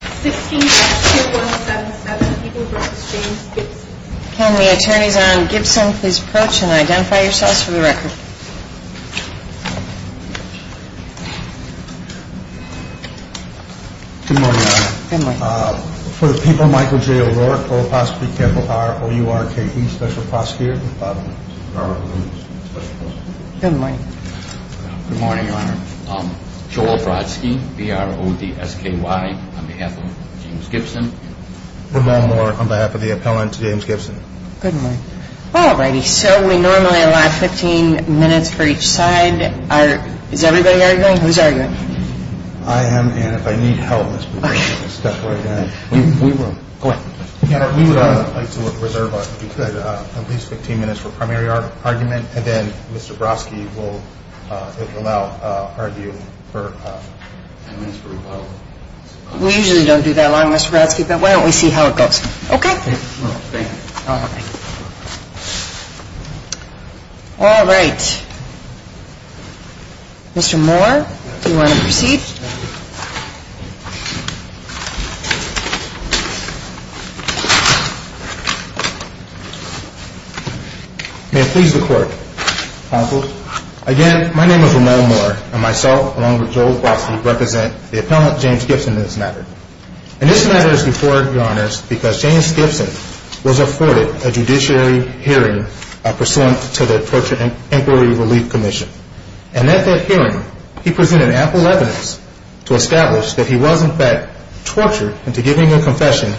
Can the attorneys on Gibson please approach and identify yourselves for the record. For the people of Michael J. O'Rourke, O-R-U-R-K-E, Special Prosecutor. Good morning. Good morning, Your Honor. Joel Brodsky, B-R-O-D-S-K-Y, on behalf of James Gibson. Ramon Moore, on behalf of the appellant, James Gibson. Good morning. All righty, so we normally allow 15 minutes for each side. Is everybody arguing? Who's arguing? I am, and if I need help, let's step right in. Go ahead. Your Honor, we would like to reserve, if we could, at least 15 minutes for primary argument, and then Mr. Brodsky will now argue for 10 minutes for rebuttal. We usually don't do that long, Mr. Brodsky, but why don't we see how it goes, okay? All right. Mr. Moore, do you want to proceed? May it please the Court, Counsel. Again, my name is Ramon Moore, and myself, along with Joel Brodsky, represent the appellant, James Gibson, in this matter. And this matter is important, Your Honors, because James Gibson was afforded a judiciary hearing pursuant to the Torture and Inquiry Relief Commission. And at that hearing, he presented ample evidence to establish that he was, in fact, tortured into giving a confession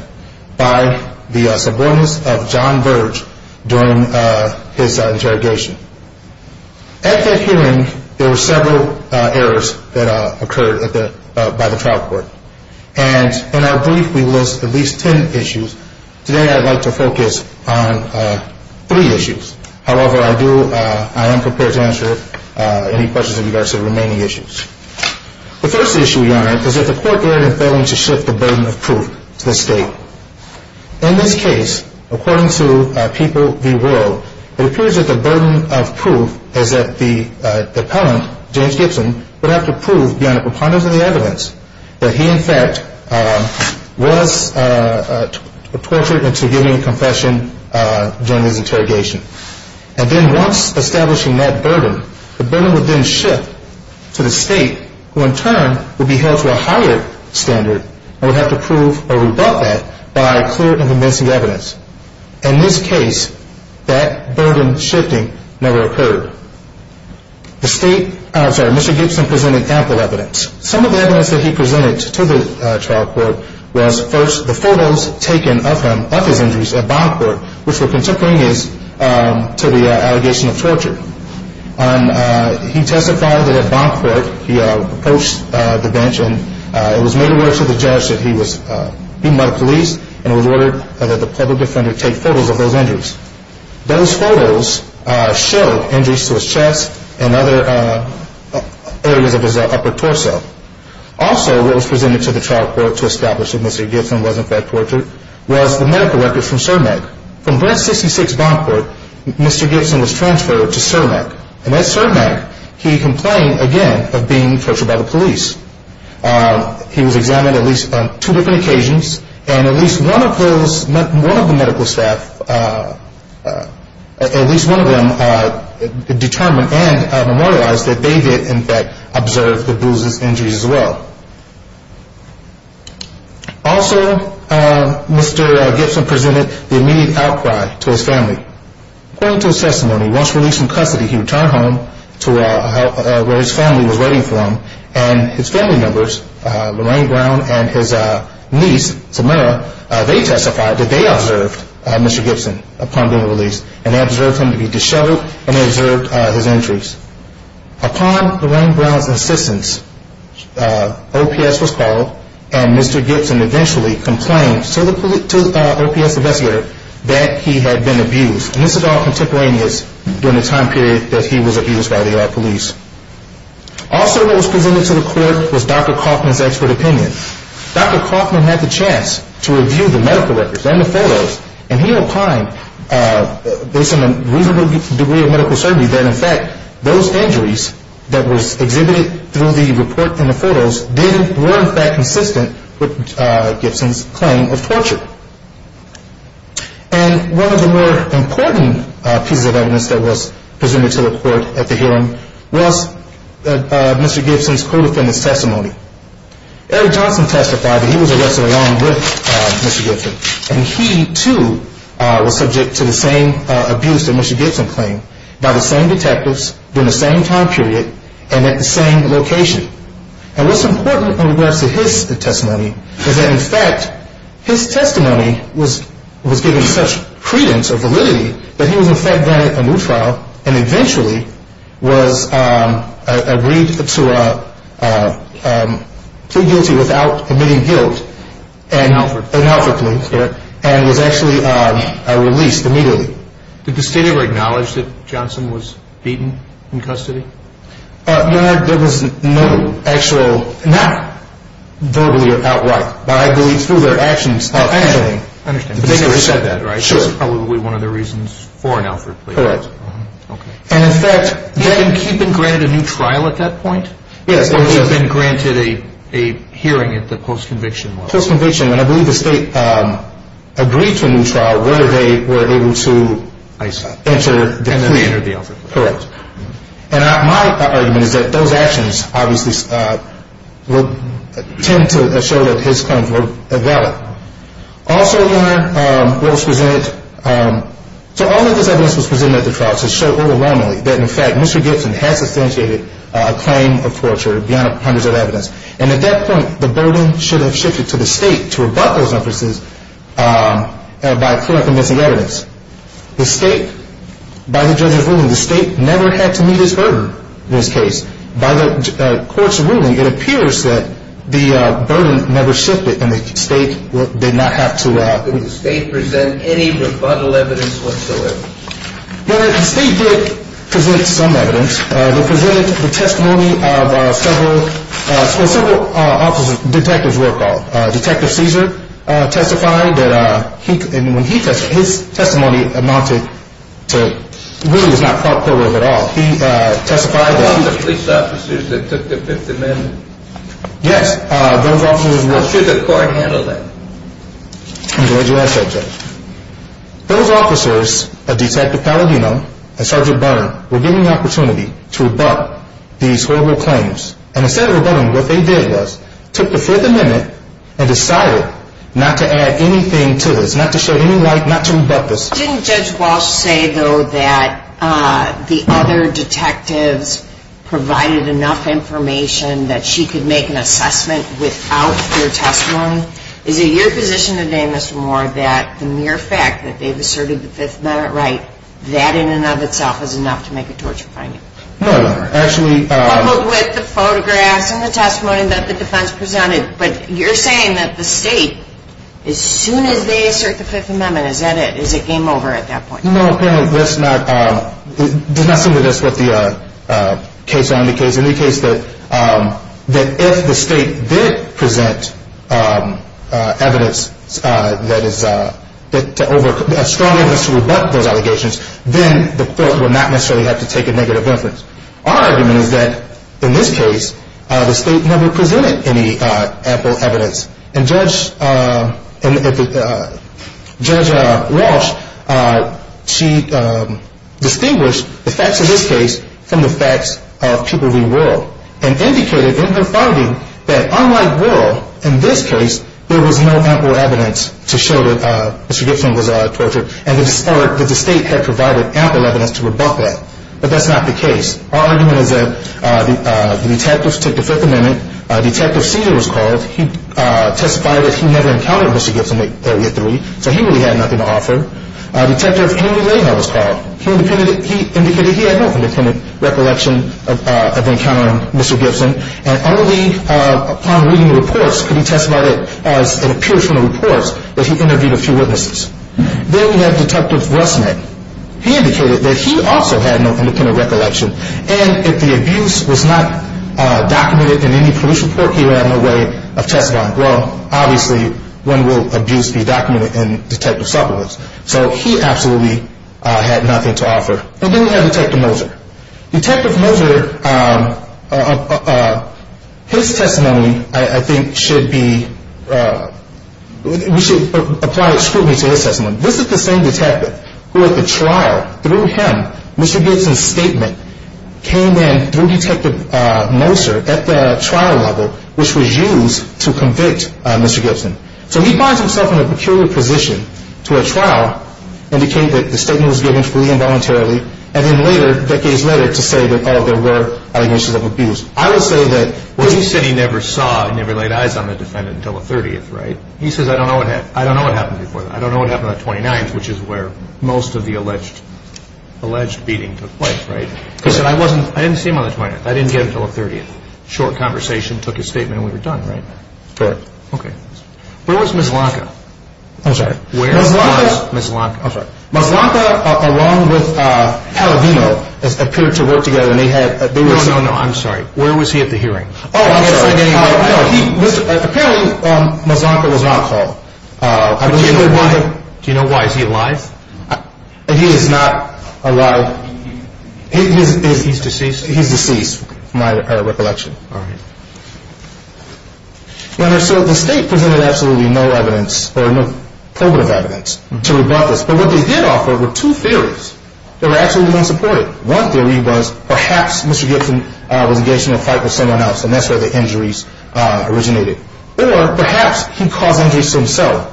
by the subordinates of John Virge during his interrogation. At that hearing, there were several errors that occurred by the trial court. And in our brief, we list at least 10 issues. Today, I'd like to focus on three issues. However, I am prepared to answer any questions of yours on the remaining issues. The first issue, Your Honor, is that the court dared and failed to shift the burden of proof to the State. In this case, according to People v. World, it appears that the burden of proof is that the appellant, James Gibson, would have to prove beyond a preponderance of the evidence that he, in fact, was tortured into giving a confession during his interrogation. And then once establishing that burden, the burden would then shift to the State, who, in turn, would be held to a higher standard and would have to prove or rebut that by clear and convincing evidence. In this case, that burden shifting never occurred. The State, I'm sorry, Mr. Gibson presented ample evidence. Some of the evidence that he presented to the trial court was, first, the photos taken of him, of his injuries at bond court, which were contemporaneous to the allegation of torture. He testified that at bond court, he approached the bench, and it was made aware to the judge that he was beaten by the police, and it was ordered that the public defender take photos of those injuries. Those photos showed injuries to his chest and other areas of his upper torso. Also, what was presented to the trial court to establish that Mr. Gibson was, in fact, tortured was the medical records from CERMEC. From branch 66 bond court, Mr. Gibson was transferred to CERMEC, and at CERMEC, he complained, again, of being tortured by the police. He was examined at least on two different occasions, and at least one of the medical staff, at least one of them determined and memorialized that they did, in fact, observe the bruises and injuries as well. Also, Mr. Gibson presented the immediate outcry to his family. According to his testimony, once released from custody, he returned home to where his family was waiting for him, and his family members, Lorraine Brown and his niece, Samara, they testified that they observed Mr. Gibson upon being released, and they observed him to be disheveled, and they observed his injuries. Upon Lorraine Brown's insistence, OPS was called, and Mr. Gibson eventually complained to the OPS investigator that he had been abused, and this is all contemporaneous during the time period that he was abused by the Iraq police. Also, what was presented to the court was Dr. Kaufman's expert opinion. Dr. Kaufman had the chance to review the medical records and the photos, and he opined, based on a reasonable degree of medical certainty, that, in fact, those injuries that were exhibited through the report and the photos were, in fact, consistent with Gibson's claim of torture. And one of the more important pieces of evidence that was presented to the court at the hearing was Mr. Gibson's co-defendant's testimony. Eric Johnson testified that he was arrested along with Mr. Gibson, and he, too, was subject to the same abuse that Mr. Gibson claimed by the same detectives during the same time period and at the same location. And what's important in regards to his testimony is that, in fact, his testimony was given such credence or validity that he was, in fact, granted a new trial and eventually was agreed to plead guilty without admitting guilt. In Alfred. In Alfred, please. And was actually released immediately. Did the state ever acknowledge that Johnson was beaten in custody? No, there was no actual, not verbally or outright, but I believe through their actions. I understand. But they never said that, right? Sure. That's probably one of the reasons for an Alfred plea. Correct. And, in fact, he'd been granted a new trial at that point? Yes. Or he'd been granted a hearing at the post-conviction level? Post-conviction. And I believe the state agreed to a new trial where they were able to enter the plea. And then they entered the Alfred plea. Correct. And my argument is that those actions, obviously, tend to show that his claims were valid. Also, Your Honor, was presented, so all of this evidence was presented at the trial to show overwhelmingly that, in fact, Mr. Gibson had substantiated a claim of torture beyond hundreds of evidence. And at that point, the burden should have shifted to the state to rebut those emphases by clear and convincing evidence. The state, by the judge's ruling, the state never had to meet his burden in this case. By the court's ruling, it appears that the burden never shifted and the state did not have to... Did the state present any rebuttal evidence whatsoever? Your Honor, the state did present some evidence. They presented the testimony of several officers. Detectives were called. Detective Cesar testified that when he testified, his testimony amounted to, really, it's not corroborative at all. He testified that he... The police officers that took the victim in? Yes, those officers were... How should the court handle that? Enjoy your answer, Judge. Those officers, Detective Palladino and Sergeant Byrne, were given the opportunity to rebut these horrible claims. And instead of rebutting, what they did was, took the Fifth Amendment and decided not to add anything to this, not to shed any light, not to rebut this. Didn't Judge Walsh say, though, that the other detectives provided enough information that she could make an assessment without their testimony? Is it your position today, Mr. Moore, that the mere fact that they've asserted the Fifth Amendment right, that in and of itself is enough to make a torture finding? No, Your Honor. Actually... But with the photographs and the testimony that the defense presented... But you're saying that the state, as soon as they assert the Fifth Amendment, is that it? Is it game over at that point? No, apparently that's not... It does not seem that that's what the case... If the state did present evidence that is strong enough to rebut those allegations, then the court would not necessarily have to take a negative inference. Our argument is that, in this case, the state never presented any ample evidence. And Judge Walsh, she distinguished the facts of this case from the facts of Pupil v. World and indicated in her finding that, unlike World, in this case, there was no ample evidence to show that Mr. Gibson was tortured and that the state had provided ample evidence to rebut that. But that's not the case. Our argument is that the detectives took the Fifth Amendment. Detective Cedar was called. He testified that he never encountered Mr. Gibson at Area 3, so he really had nothing to offer. Detective Amy Lahau was called. He indicated he had no independent recollection of encountering Mr. Gibson, and only upon reading the reports could he testify that it appears from the reports that he interviewed a few witnesses. Then we have Detective Rusnick. He indicated that he also had no independent recollection, and if the abuse was not documented in any police report, he would have no way of testifying. Well, obviously, when will abuse be documented in detective supplements? So he absolutely had nothing to offer. And then we have Detective Moser. Detective Moser, his testimony, I think, should be, we should apply scrutiny to his testimony. This is the same detective who, at the trial, through him, Mr. Gibson's statement, came in through Detective Moser at the trial level, which was used to convict Mr. Gibson. So he finds himself in a peculiar position to, at trial, indicate that the statement was given freely and voluntarily, and then later, decades later, to say that, oh, there were allegations of abuse. I would say that what he said he never saw, he never laid eyes on the defendant until the 30th, right? He says, I don't know what happened before that. I don't know what happened on the 29th, which is where most of the alleged beating took place, right? He said, I didn't see him on the 29th. I didn't get him until the 30th. Short conversation, took his statement, and we were done, right? Correct. Okay. Where was Ms. Lanca? I'm sorry. Where was Ms. Lanca? Ms. Lanca. I'm sorry. Ms. Lanca, along with Paladino, appeared to work together, and they had, they were. No, no, no. I'm sorry. Where was he at the hearing? Oh, I'm sorry. Apparently, Ms. Lanca was not called. Do you know why? Do you know why? Is he alive? He is not alive. He's deceased? He's deceased, from my recollection. All right. Your Honor, so the State presented absolutely no evidence, or no probative evidence, to rebut this. But what they did offer were two theories that were absolutely unsupported. One theory was, perhaps Mr. Gibson was engaged in a fight with someone else, and that's where the injuries originated. Or, perhaps he caused injuries to himself.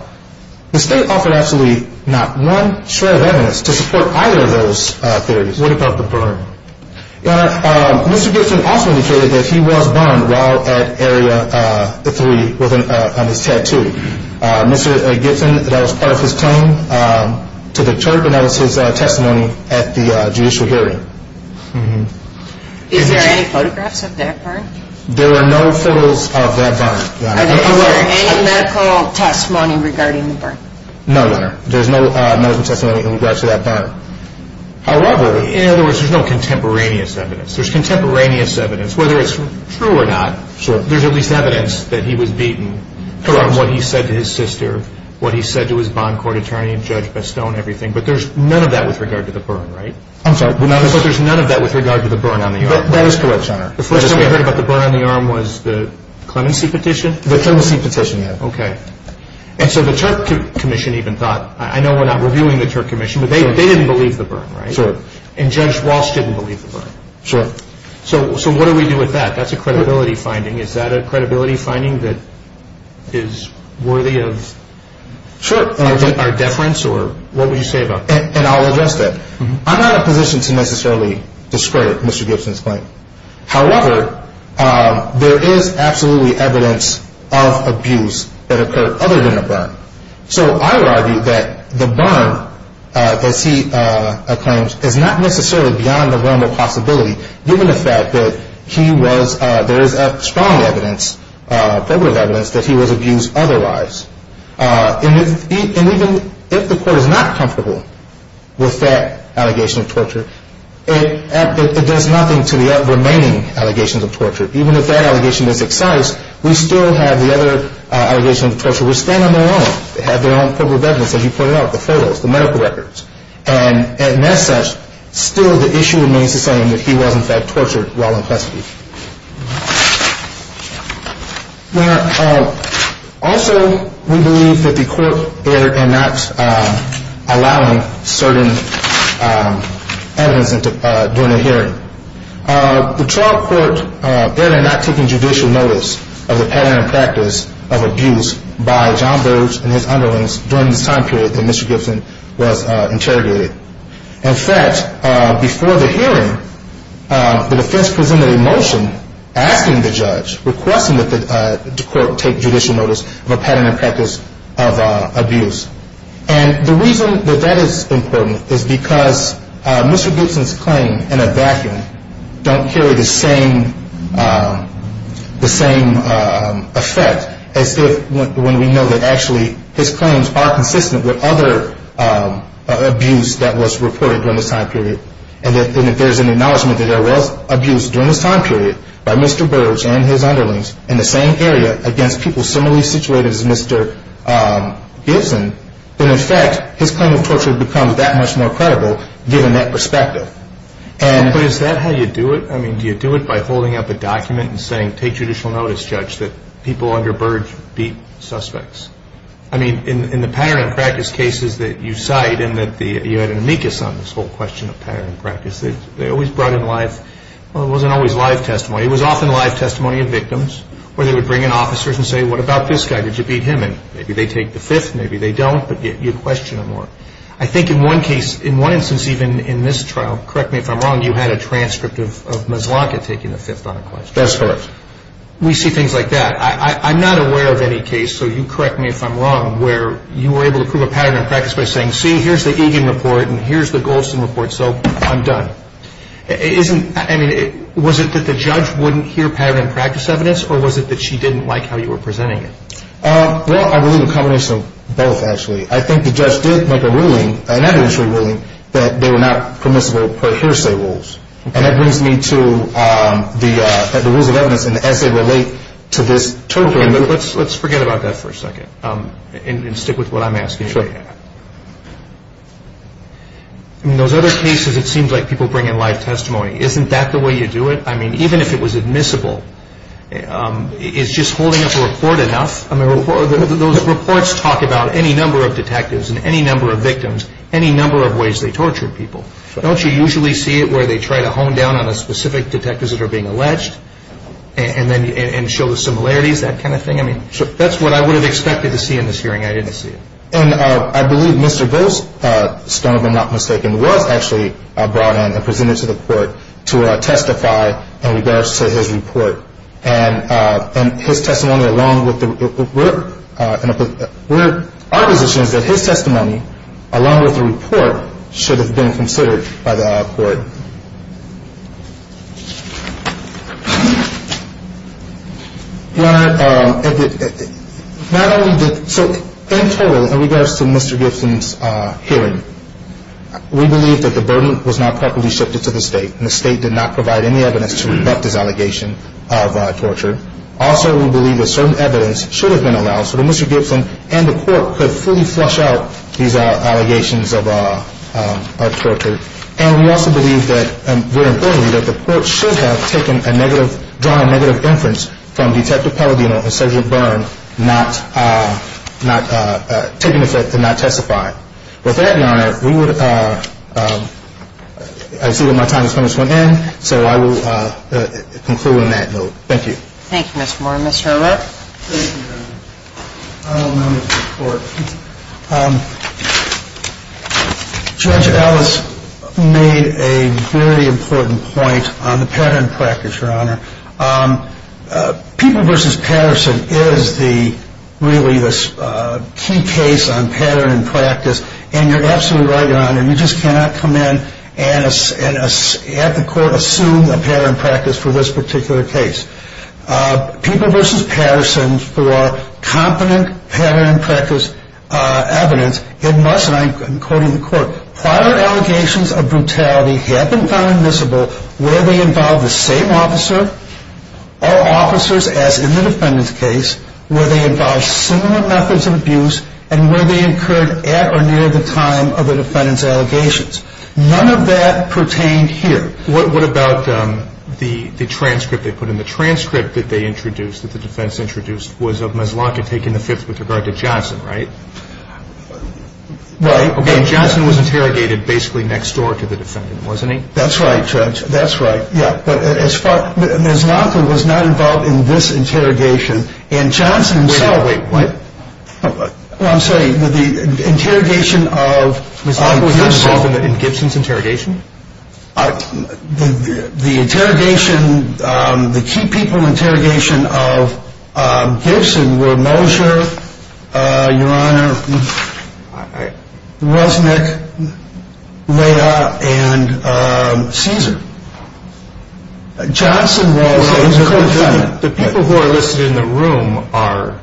The State offered absolutely not one shred of evidence to support either of those theories. What about the burn? Your Honor, Mr. Gibson also indicated that he was burned while at Area 3 on his tattoo. Mr. Gibson, that was part of his claim to the church, and that was his testimony at the judicial hearing. Is there any photographs of that burn? There are no photos of that burn, Your Honor. Is there any medical testimony regarding the burn? No, Your Honor. There's no medical testimony in regards to that burn. However... In other words, there's no contemporaneous evidence. There's contemporaneous evidence, whether it's true or not. Sure. There's at least evidence that he was beaten from what he said to his sister, what he said to his bond court attorney and Judge Bestone, everything. But there's none of that with regard to the burn, right? I'm sorry. But there's none of that with regard to the burn on the arm. That is correct, Your Honor. The first time we heard about the burn on the arm was the clemency petition? The clemency petition, yes. Okay. And so the Turk Commission even thought, I know we're not reviewing the Turk Commission, but they didn't believe the burn, right? Sure. And Judge Walsh didn't believe the burn? Sure. So what do we do with that? That's a credibility finding. Is that a credibility finding that is worthy of our deference or what would you say about that? And I'll address that. I'm not in a position to necessarily discredit Mr. Gibson's claim. However, there is absolutely evidence of abuse that occurred other than the burn. So I would argue that the burn that he claims is not necessarily beyond the realm of possibility, given the fact that there is strong evidence, probative evidence, that he was abused otherwise. And even if the court is not comfortable with that allegation of torture, it does nothing to the remaining allegations of torture. Even if that allegation is excised, we still have the other allegations of torture which stand on their own. They have their own probative evidence, as you pointed out, the photos, the medical records. And as such, still the issue remains the same that he was, in fact, tortured while in custody. Now, also we believe that the court erred in not allowing certain evidence during the hearing. The trial court erred in not taking judicial notice of the pattern and practice of abuse by John Burge and his underlings during this time period that Mr. Gibson was interrogated. In fact, before the hearing, the defense presented a motion asking the judge, requesting that the court take judicial notice of a pattern and practice of abuse. And the reason that that is important is because Mr. Gibson's claim in a vacuum don't carry the same effect as when we know that actually his claims are consistent with other abuse that was reported during this time period. And if there's an acknowledgment that there was abuse during this time period by Mr. Burge and his underlings in the same area against people similarly situated as Mr. Gibson, then in fact his claim of torture becomes that much more credible, given that perspective. But is that how you do it? I mean, do you do it by holding up a document and saying, take judicial notice, judge, that people under Burge beat suspects? I mean, in the pattern and practice cases that you cite, and that you had an amicus on this whole question of pattern and practice, they always brought in live, well, it wasn't always live testimony. It was often live testimony of victims where they would bring in officers and say, what about this guy? Did you beat him? And maybe they take the fifth, maybe they don't, but you question them more. I think in one case, in one instance even in this trial, correct me if I'm wrong, you had a transcript of Mazlanka taking the fifth on a question. That's correct. We see things like that. I'm not aware of any case, so you correct me if I'm wrong, where you were able to prove a pattern and practice by saying, see, here's the Egan report and here's the Goldston report, so I'm done. I mean, was it that the judge wouldn't hear pattern and practice evidence or was it that she didn't like how you were presenting it? Well, I believe a combination of both, actually. I think the judge did make a ruling, an evidentiary ruling, that they were not permissible per hearsay rules. And that brings me to the rules of evidence and as they relate to this. Let's forget about that for a second and stick with what I'm asking. Sure. In those other cases, it seems like people bring in live testimony. Isn't that the way you do it? I mean, even if it was admissible, it's just holding up a report enough. I mean, those reports talk about any number of detectives and any number of victims, any number of ways they tortured people. Don't you usually see it where they try to hone down on the specific detectives that are being alleged and show the similarities, that kind of thing? I mean, that's what I would have expected to see in this hearing. I didn't see it. And I believe Mr. Goldstone, if I'm not mistaken, was actually brought in and presented to the court to testify in regards to his report. And his testimony along with the report should have been considered by the court. Your Honor, so in total, in regards to Mr. Gibson's hearing, we believe that the burden was not properly shifted to the state and the state did not provide any evidence to refute this allegation of torture. Also, we believe that certain evidence should have been allowed so that Mr. Gibson and the court could fully flush out these allegations of torture. And we also believe that the court should have drawn a negative inference from Detective Palladino and Sergeant Byrne not taking effect and not testifying. With that, Your Honor, I see that my time has come to an end. So I will conclude on that note. Thank you. Thank you, Mr. Moore. Mr. Arlott? Thank you, Your Honor. I will now move to the court. Judge Ellis made a very important point on the pattern in practice, Your Honor. People v. Patterson is really the key case on pattern in practice. And you're absolutely right, Your Honor. You just cannot come in and have the court assume a pattern in practice for this particular case. People v. Patterson, for competent pattern in practice evidence, it must, and I'm quoting the court, prior allegations of brutality have been found admissible where they involve the same officer or officers as in the defendant's case, where they involve similar methods of abuse, and where they occurred at or near the time of the defendant's allegations. None of that pertained here. What about the transcript they put in? The transcript that they introduced, that the defense introduced, was of Mezlonka taking the Fifth with regard to Johnson, right? Right. Okay. And Johnson was interrogated basically next door to the defendant, wasn't he? That's right, Judge. That's right. Yeah. But as far, Mezlonka was not involved in this interrogation. And Johnson himself. Wait. What? I'm sorry. The interrogation of Mezlonka was not involved in Gibson's interrogation? The interrogation, the key people interrogation of Gibson were Moser, Your Honor, Ruznik, Leia, and Caesar. Johnson was a defendant. The people who are listed in the room are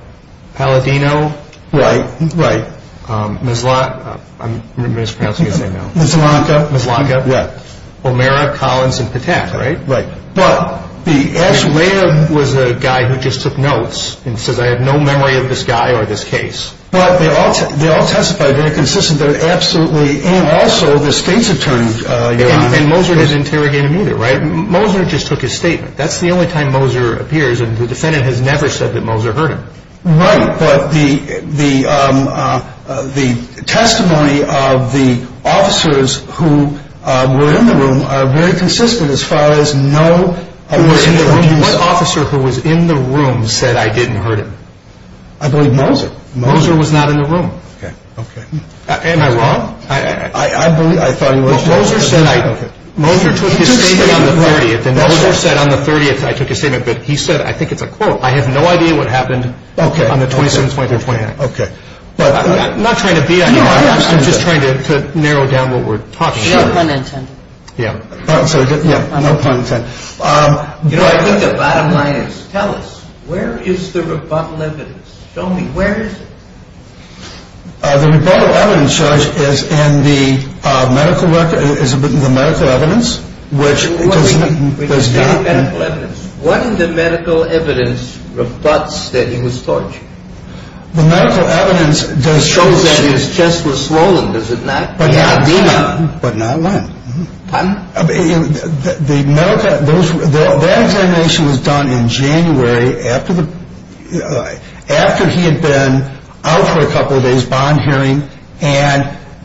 Palladino. Right, right. Mezlonka, I'm mispronouncing everything now. Mezlonka. Mezlonka. Yeah. O'Mara, Collins, and Patak, right? Right. But the actual. Leia was a guy who just took notes and says, I have no memory of this guy or this case. But they all testified. They're consistent that it absolutely, and also the state's attorney, Your Honor. And Moser didn't interrogate him either, right? Moser just took his statement. That's the only time Moser appears, and the defendant has never said that Moser heard him. Right. But the testimony of the officers who were in the room are very consistent as far as no. What officer who was in the room said I didn't hurt him? I believe Moser. Moser was not in the room. Okay, okay. Am I wrong? I thought he was. Moser took his statement on the 30th, and Moser said on the 30th I took his statement. But he said, I think it's a quote. I have no idea what happened on the 27th, 28th, and 29th. Okay. I'm not trying to beat on you. I'm just trying to narrow down what we're talking about. No pun intended. Yeah. No pun intended. You know, I think the bottom line is, tell us, where is the rebuttal evidence? Show me. Where is it? The rebuttal evidence, Judge, is in the medical record. It's in the medical evidence. What in the medical evidence rebutts that he was tortured? The medical evidence does show that his chest was swollen, does it not? But not when. Pardon? That examination was done in January after he had been out for a couple of days, bond hearing, and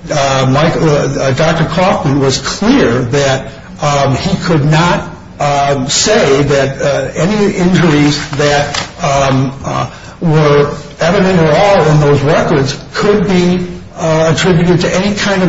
Dr. Kaufman was clear that he could not say that any injuries that were evident at all in those records could be attributed to any kind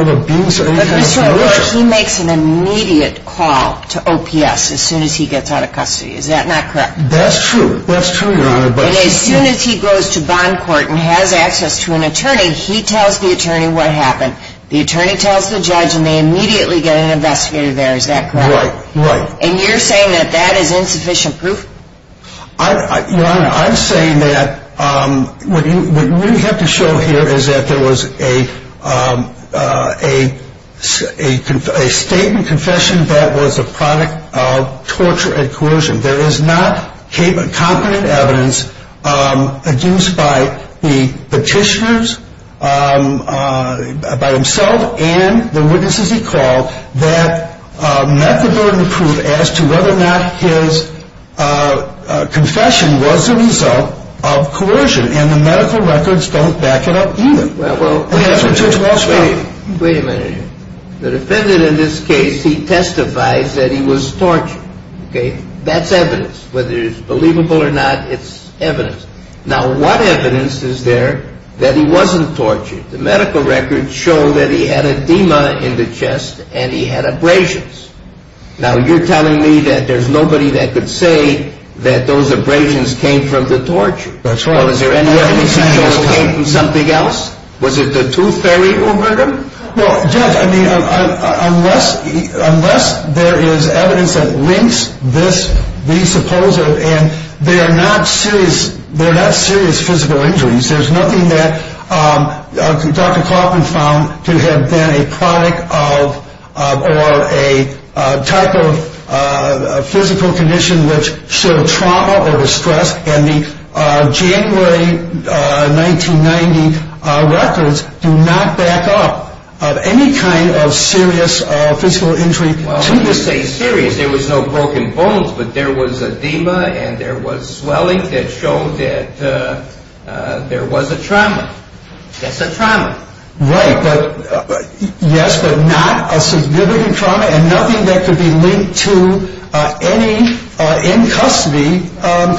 of abuse or any kind of torture. He makes an immediate call to OPS as soon as he gets out of custody. Is that not correct? That's true. That's true, Your Honor. And as soon as he goes to bond court and has access to an attorney, he tells the attorney what happened. The attorney tells the judge, and they immediately get an investigator there. Is that correct? Right, right. And you're saying that that is insufficient proof? Your Honor, I'm saying that what you really have to show here is that there was a statement, confession that was a product of torture and coercion. There is not competent evidence against by the petitioners, by himself and the witnesses he called, that met the burden of proof as to whether or not his confession was the result of coercion. And the medical records don't back it up either. Wait a minute. The defendant in this case, he testifies that he was tortured. Okay? That's evidence. Whether it's believable or not, it's evidence. Now, what evidence is there that he wasn't tortured? The medical records show that he had edema in the chest and he had abrasions. Now, you're telling me that there's nobody that could say that those abrasions came from the torture. That's right. Well, is there any evidence he came from something else? Was it the tooth fairy who hurt him? Well, Judge, I mean, unless there is evidence that links this, the supposed, and they're not serious physical injuries. There's nothing that Dr. Kaufman found to have been a product of or a type of physical condition which showed trauma or distress, and the January 1990 records do not back up of any kind of serious physical injury. Well, when you say serious, there was no broken bones, but there was edema and there was swelling that showed that there was a trauma. That's a trauma. Right, yes, but not a significant trauma and nothing that could be linked to any in-custody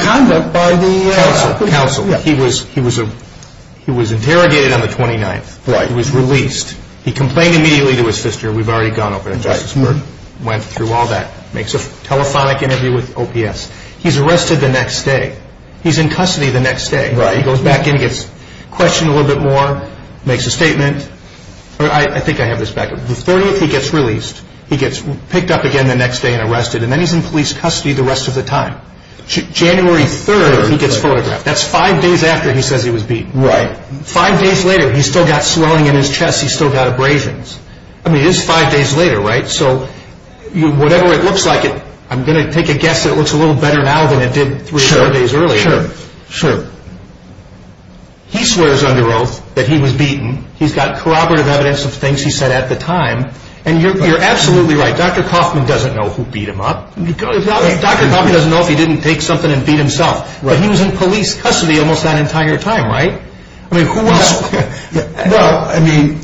conduct by the- Counsel, he was interrogated on the 29th. Right. He was released. He complained immediately to his sister. We've already gone over that. Justice Berg went through all that, makes a telephonic interview with OPS. He's arrested the next day. He's in custody the next day. Right. He goes back in, gets questioned a little bit more, makes a statement. I think I have this back. The 30th, he gets released. He gets picked up again the next day and arrested, and then he's in police custody the rest of the time. January 3rd, he gets photographed. That's five days after he says he was beaten. Right. Five days later, he's still got swelling in his chest. He's still got abrasions. I mean, it is five days later, right? So whatever it looks like, I'm going to take a guess that it looks a little better now than it did three or four days earlier. Sure, sure. He swears under oath that he was beaten. He's got corroborative evidence of things he said at the time. And you're absolutely right. Dr. Kaufman doesn't know who beat him up. Dr. Kaufman doesn't know if he didn't take something and beat himself. But he was in police custody almost that entire time, right? I mean, who else? Well, I mean,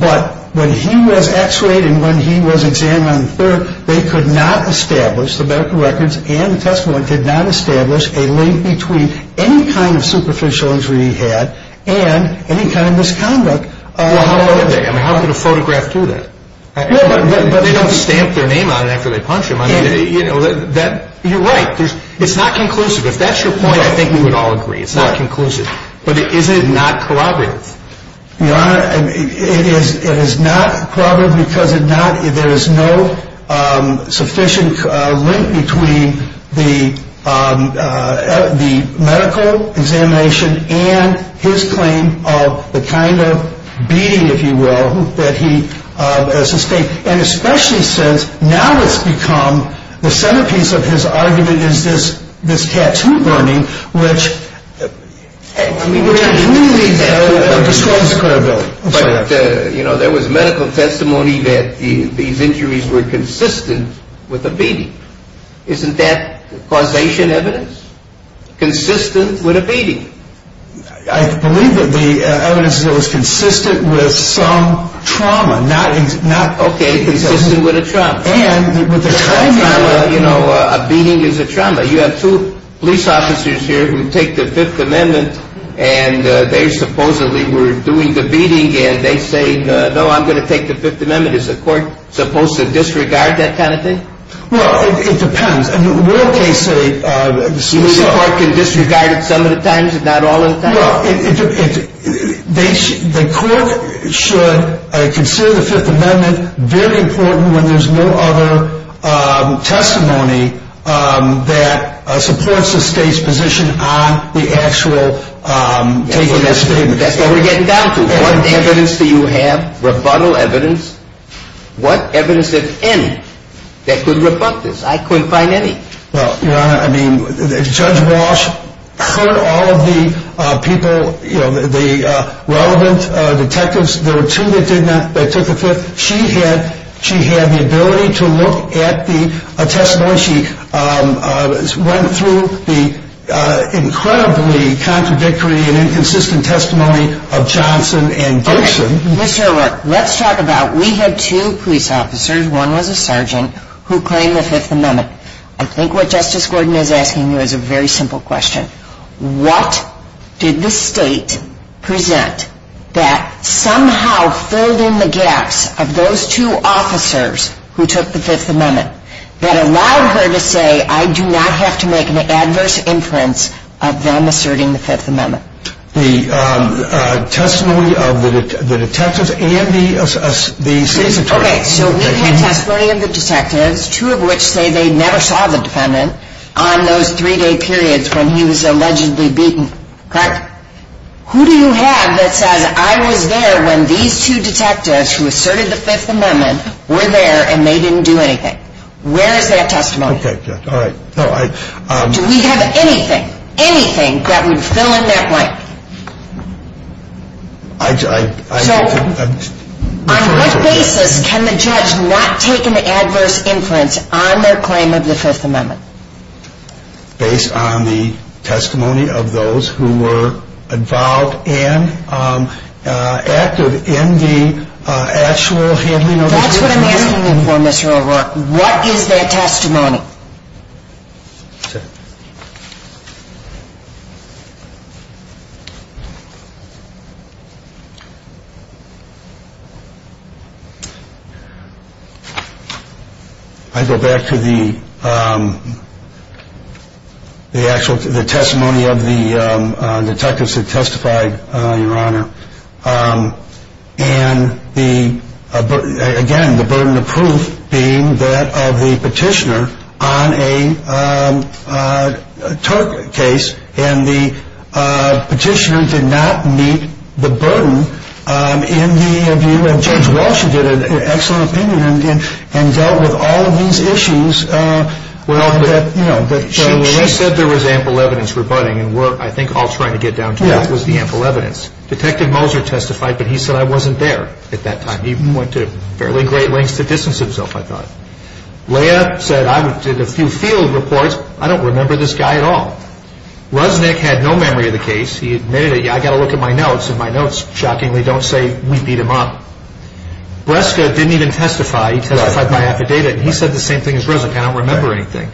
but when he was X-rayed and when he was examined on the 3rd, they could not establish, the medical records and the testimony did not establish, a link between any kind of superficial injury he had and any kind of misconduct. Well, how could they? I mean, how could a photograph do that? No, but they don't stamp their name on it after they punch him. I mean, you know, you're right. It's not conclusive. If that's your point, I think we would all agree it's not conclusive. But is it not corroborative? Your Honor, it is not corroborative because there is no sufficient link between the medical examination and his claim of the kind of beating, if you will, that he sustained. And especially since now it's become the centerpiece of his argument is this tattoo burning, which truly describes the credibility. But, you know, there was medical testimony that these injuries were consistent with a beating. Isn't that causation evidence? Consistent with a beating. I believe that the evidence is that it was consistent with some trauma. Okay, consistent with a trauma. A beating is a trauma. You have two police officers here who take the Fifth Amendment, and they supposedly were doing the beating, and they say, no, I'm going to take the Fifth Amendment. Is the court supposed to disregard that kind of thing? Well, it depends. Won't they say the Supreme Court can disregard it some of the times and not all of the times? Well, the court should consider the Fifth Amendment very important when there's no other testimony that supports the state's position on the actual taking of statements. That's what we're getting down to. What evidence do you have, rebuttal evidence? What evidence, if any, that could rebut this? I couldn't find any. Well, Your Honor, Judge Walsh heard all of the people, the relevant detectives. There were two that took the Fifth. She had the ability to look at the testimony. She went through the incredibly contradictory and inconsistent testimony of Johnson and Gibson. Mr. O'Rourke, let's talk about, we had two police officers, one was a sergeant, who claimed the Fifth Amendment. I think what Justice Gordon is asking you is a very simple question. What did the state present that somehow filled in the gaps of those two officers who took the Fifth Amendment that allowed her to say, I do not have to make an adverse inference of them asserting the Fifth Amendment? The testimony of the detectives and the state's attorney. Okay, so we've had testimony of the detectives, two of which say they never saw the defendant, on those three-day periods when he was allegedly beaten, correct? Who do you have that says, I was there when these two detectives who asserted the Fifth Amendment were there and they didn't do anything? Where is that testimony? Okay, all right. Do we have anything, anything that would fill in that blank? So, on what basis can the judge not take an adverse inference on their claim of the Fifth Amendment? Based on the testimony of those who were involved and active in the actual handling of the Fifth Amendment. That's what I'm asking you for, Mr. O'Rourke. What is that testimony? I go back to the actual, the testimony of the detectives who testified, Your Honor. And, again, the burden of proof being that of the petitioner on a Turk case, and the petitioner did not meet the burden in the view of Judge Walsh, who did an excellent opinion and dealt with all of these issues. Well, she said there was ample evidence rebutting, and I think all trying to get down to this was the ample evidence. Detective Moser testified, but he said, I wasn't there at that time. He went to fairly great lengths to distance himself, I thought. Leah said, I did a few field reports. I don't remember this guy at all. Rusnick had no memory of the case. He admitted, I've got to look at my notes, and my notes, shockingly, don't say we beat him up. Breska didn't even testify. He testified by affidavit, and he said the same thing as Rusnick. I don't remember anything.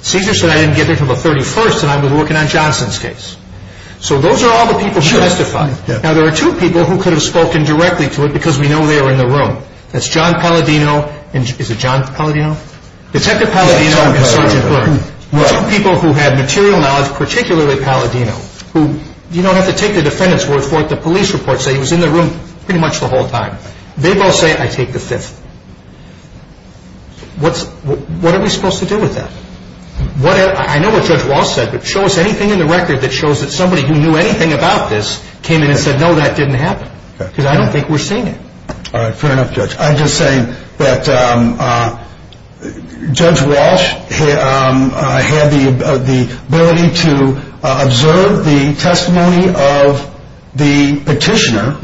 Caesar said I didn't get there until the 31st, and I was working on Johnson's case. So those are all the people who testified. Now, there are two people who could have spoken directly to it because we know they were in the room. That's John Palladino. Is it John Palladino? Detective Palladino and Sergeant Byrd. Two people who had material knowledge, particularly Palladino, who you don't have to take the defendant's word for it. The police reports say he was in the room pretty much the whole time. They both say, I take the fifth. What are we supposed to do with that? I know what Judge Walsh said, but show us anything in the record that shows that somebody who knew anything about this came in and said, no, that didn't happen, because I don't think we're seeing it. All right, fair enough, Judge. I'm just saying that Judge Walsh had the ability to observe the testimony of the petitioner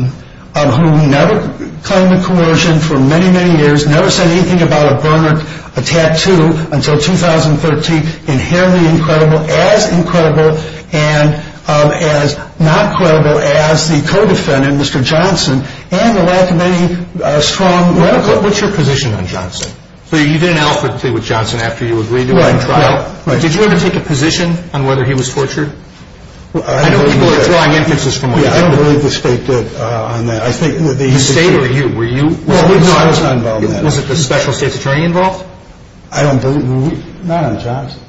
who never claimed a coercion for many, many years, never said anything about a burn or a tattoo until 2013, inherently incredible, as incredible and as not credible as the co-defendant, Mr. Johnson, and the lack of any strong record. What's your position on Johnson? You didn't offer to play with Johnson after you agreed to a trial. Did you ever take a position on whether he was tortured? I don't believe the State did. The State or you, were you? No, I was not involved in that. Was it the special state's attorney involved? I don't believe, not on Johnson.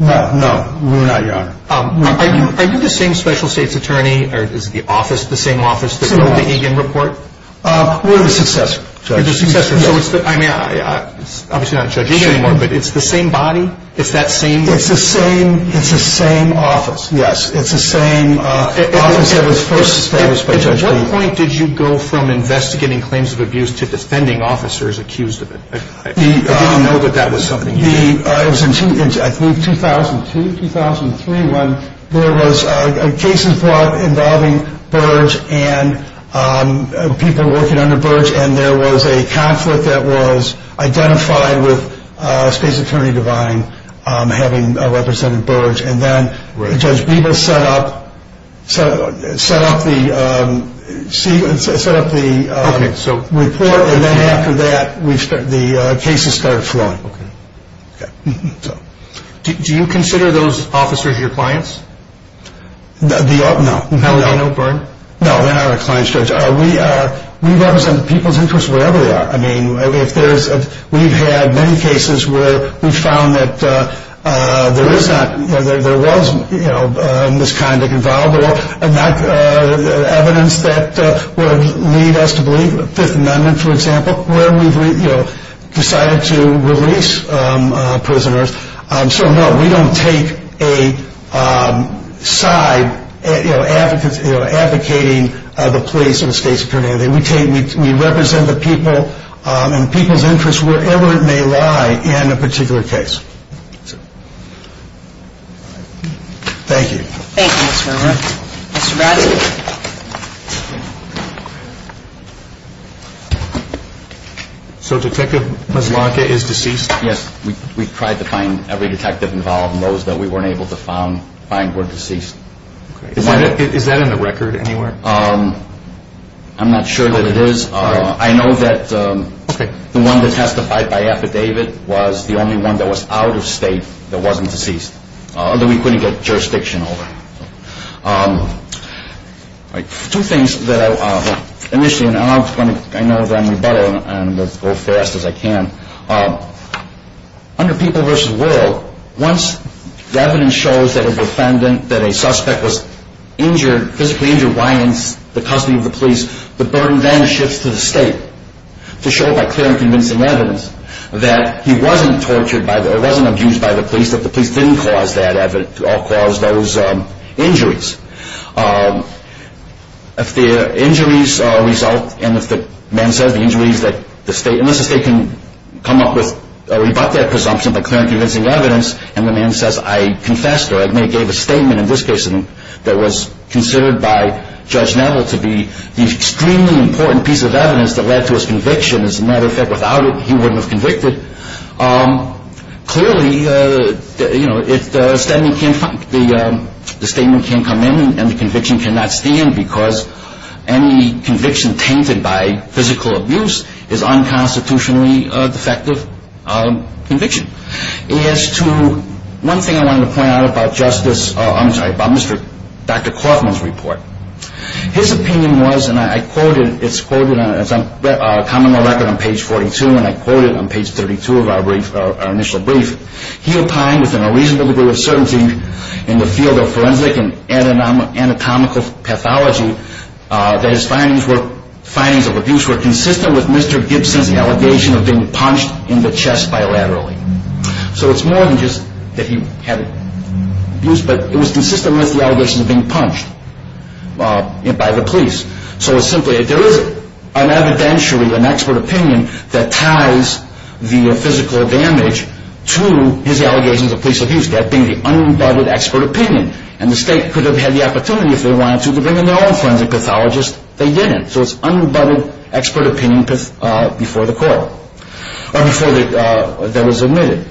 No, we're not, Your Honor. Are you the same special state's attorney, or is the office the same office that wrote the Egan report? We're the successor, Judge. You're the successor, so it's the, I mean, obviously not Judge Egan anymore, but it's the same body? It's that same? It's the same office, yes. It's the same office that was first established by Judge Bebo. At what point did you go from investigating claims of abuse to defending officers accused of it? I didn't know that that was something you did. It was in, I believe, 2002, 2003, when there was a case in part involving Burge and people working under Burge, and there was a conflict that was identified with a space attorney divine having represented Burge, and then Judge Bebo set up the report, and then after that, the cases started flowing. Do you consider those officers your clients? No. Pellegrino, Burge? No, they're not our clients, Judge. We represent people's interests wherever they are. I mean, we've had many cases where we've found that there was misconduct involved, but not evidence that would lead us to believe the Fifth Amendment, for example, where we've decided to release prisoners. So, no, we don't take a side advocating the police and the space attorney. We represent the people and people's interests wherever it may lie in a particular case. Thank you. Thank you, Mr. Verma. Mr. Bradshaw. So Detective Mazzlanca is deceased? Yes. We tried to find every detective involved, and those that we weren't able to find were deceased. Is that in the record anywhere? I'm not sure that it is. I know that the one that testified by affidavit was the only one that was out of state that wasn't deceased, that we couldn't get jurisdiction over. Two things that I initially announced, and I know that I'm rebuttal, and I'll go fast as I can. Under people versus world, once the evidence shows that a defendant, that a suspect, was injured, physically injured while in the custody of the police, the burden then shifts to the state to show by clear and convincing evidence that he wasn't abused by the police, that the police didn't cause those injuries. If the injuries result, and if the man says the injuries that the state, unless the state can come up with or rebut that presumption by clear and convincing evidence, and the man says I confessed or I gave a statement in this case that was considered by Judge Neville to be the extremely important piece of evidence that led to his conviction, as a matter of fact without it he wouldn't have convicted, clearly the statement can't come in and the conviction cannot stand because any conviction tainted by physical abuse is unconstitutionally a defective conviction. As to one thing I wanted to point out about Justice, I'm sorry, about Dr. Kaufman's report. His opinion was, and I quoted, it's quoted on a common law record on page 42, and I quoted on page 32 of our initial brief, he opined within a reasonable degree of certainty in the field of forensic and anatomical pathology that his findings of abuse were consistent with Mr. Gibson's allegation of being punched in the chest bilaterally. So it's more than just that he had abuse, but it was consistent with the allegation of being punched by the police. So it's simply that there is an evidentiary, an expert opinion, that ties the physical damage to his allegations of police abuse, that being the unrebutted expert opinion, and the state could have had the opportunity if they wanted to to bring in their own forensic pathologist, they didn't, so it's unrebutted expert opinion before the court. Or before that was admitted.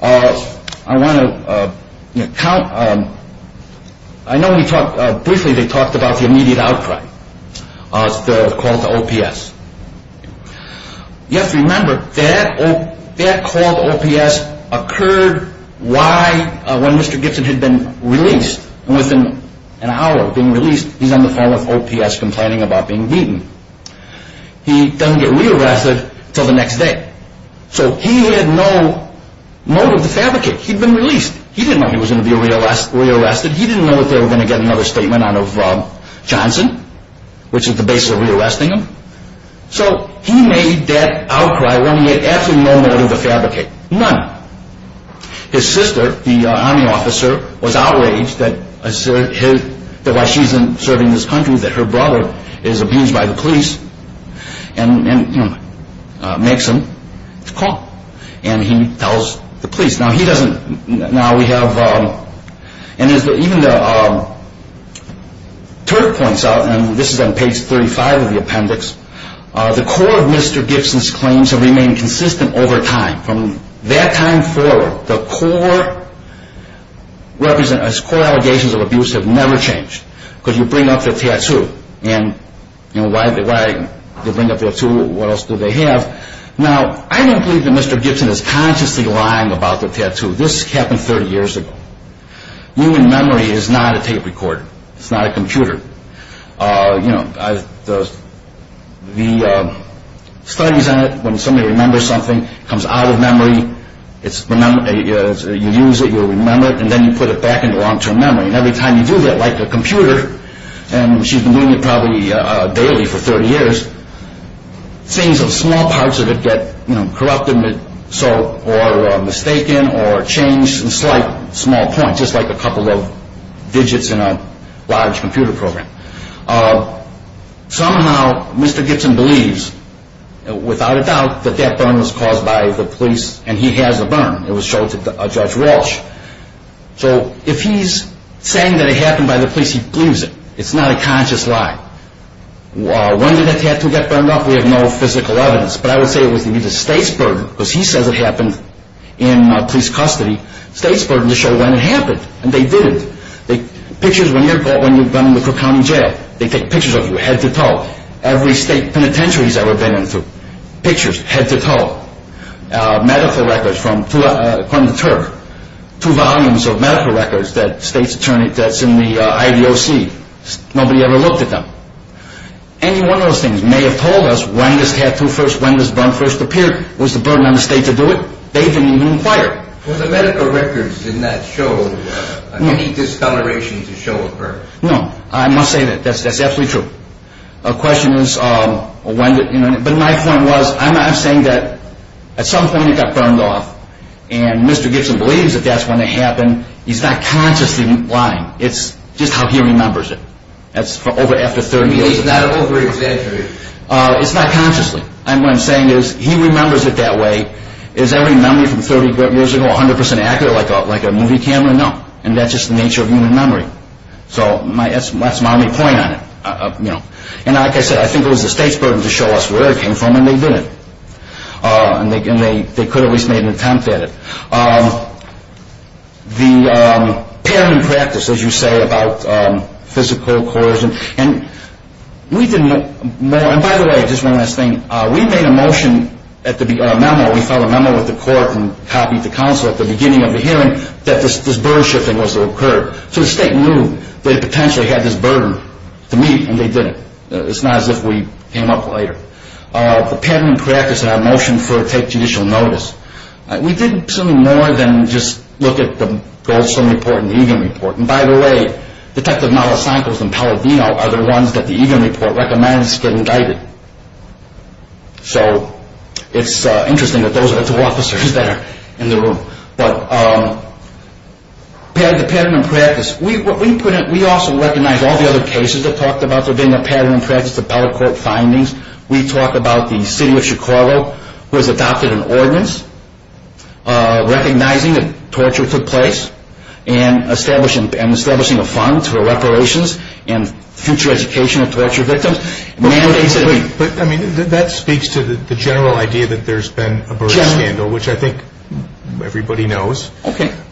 I want to count, I know we talked briefly, they talked about the immediate outcry of the call to OPS. You have to remember that call to OPS occurred when Mr. Gibson had been released, and within an hour of being released he's on the phone with OPS complaining about being beaten. He doesn't get re-arrested until the next day. So he had no motive to fabricate. He'd been released. He didn't know he was going to be re-arrested. He didn't know that they were going to get another statement out of Johnson, which is the basis of re-arresting him. So he made that outcry when he had absolutely no motive to fabricate. None. His sister, the army officer, was outraged that while she's serving this country that her brother is abused by the police, and makes him call. And he tells the police. Now he doesn't, now we have, and as even the Turk points out, and this is on page 35 of the appendix, the core of Mr. Gibson's claims have remained consistent over time. From that time forward, the core allegations of abuse have never changed. Because you bring up the tattoo. And why do they bring up their tattoo? What else do they have? Now, I don't believe that Mr. Gibson is consciously lying about the tattoo. This happened 30 years ago. Human memory is not a tape recorder. It's not a computer. You know, the studies on it, when somebody remembers something, it comes out of memory, you use it, you remember it, and then you put it back into long-term memory. And every time you do that, like a computer, and she's been doing it probably daily for 30 years, things of small parts of it get corrupted, or mistaken, or changed, in slight, small points, just like a couple of digits in a large computer program. Somehow, Mr. Gibson believes, without a doubt, that that burn was caused by the police, and he has a burn. It was shown to Judge Walsh. So if he's saying that it happened by the police, he believes it. It's not a conscious lie. When did the tattoo get burned off? We have no physical evidence. But I would say it was the state's burden, because he says it happened in police custody, the state's burden to show when it happened, and they did it. Pictures when you're caught, when you're done in the Cook County Jail, they take pictures of you, head to toe. Every state penitentiary he's ever been into, pictures, head to toe. Medical records from, according to Terp, two volumes of medical records that state's attorney, that's in the IDOC, nobody ever looked at them. Any one of those things may have told us when this tattoo first, when this burn first appeared, was the burden on the state to do it. They didn't even inquire. Well, the medical records did not show any discoloration to show a burn. No, I must say that, that's absolutely true. But my point was, I'm saying that at some point it got burned off, and Mr. Gibson believes that that's when it happened. He's not consciously lying. It's just how he remembers it. That's over after 30 years. He's not over-exaggerating. It's not consciously. What I'm saying is, he remembers it that way. Is every memory from 30 years ago 100% accurate like a movie camera? No. And that's just the nature of human memory. So that's my only point on it. And like I said, I think it was the state's burden to show us where it came from, and they did it. And they could have at least made an attempt at it. The parent practice, as you say, about physical coercion, and we didn't know more, and by the way, just one last thing, we made a motion, a memo, we filed a memo with the court and copied the counsel at the beginning of the hearing that this burden-shifting was to occur. So the state knew they potentially had this burden to meet, and they did it. It's not as if we came up later. The parent practice and our motion to take judicial notice, we did something more than just look at the Goldstone report and the Egan report. And by the way, Detectives Malasankos and Palladino are the ones that the Egan report recommends get indicted. So it's interesting that those are the two officers that are in the room. But the pattern and practice, we also recognize all the other cases that talked about there being a pattern and practice, the Bella Court findings. We talk about the city of Chicago, who has adopted an ordinance recognizing that torture took place and establishing a fund for reparations and future education of torture victims. But that speaks to the general idea that there's been a burden scandal, which I think everybody knows. But that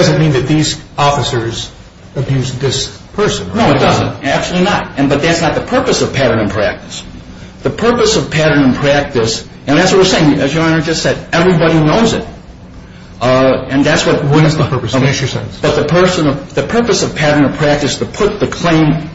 doesn't mean that these officers abused this person. No, it doesn't. Absolutely not. But that's not the purpose of pattern and practice. The purpose of pattern and practice, and that's what we're saying, as Your Honor just said, everybody knows it. What is the purpose? Make your sentence. The purpose of pattern and practice is to put the claim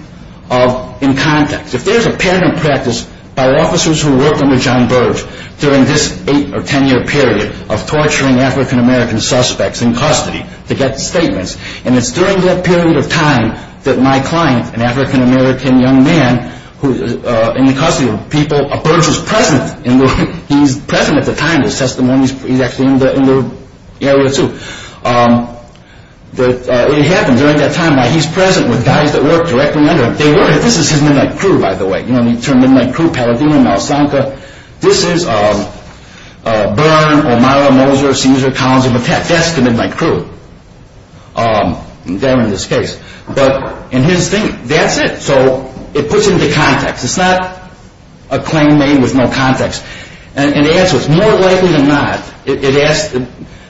in context. If there's a pattern and practice by officers who worked under John Burge during this eight or ten year period of torturing African-American suspects in custody to get statements, and it's during that period of time that my client, an African-American young man in the custody of people, Burge was present at the time of his testimony. He's actually in the area too. It happened during that time. He's present with guys that worked directly under him. This is his midnight crew, by the way. You know, you turn midnight crew, Paladino, Malsanka. This is Byrne, O'Mara, Moser, Cesar, Collins, and Buffett. That's the midnight crew there in this case. But in his thing, that's it. So it puts it into context. It's not a claim made with no context. And the answer is, more likely than not, it asks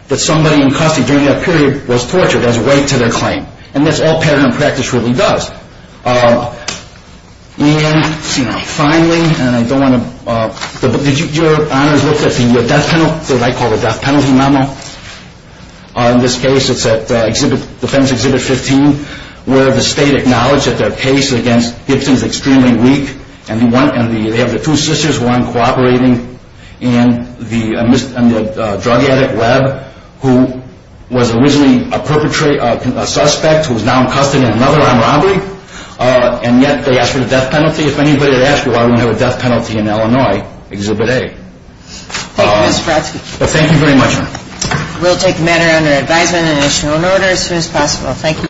that somebody in custody during that period was tortured as a way to their claim. And that's all pattern and practice really does. And finally, and I don't want to – did your honors look at the death penalty memo? In this case, it's at Defense Exhibit 15, where the state acknowledged that their case against Gibson is extremely weak, and they have the two sisters, one cooperating in the drug addict lab, who was originally a suspect who is now in custody in another armed robbery, and yet they ask for the death penalty. If anybody had asked me why we don't have a death penalty in Illinois, Exhibit A. Thank you, Mr. Brodsky. Thank you very much. We'll take the matter under advisement and issue an order as soon as possible. Thank you.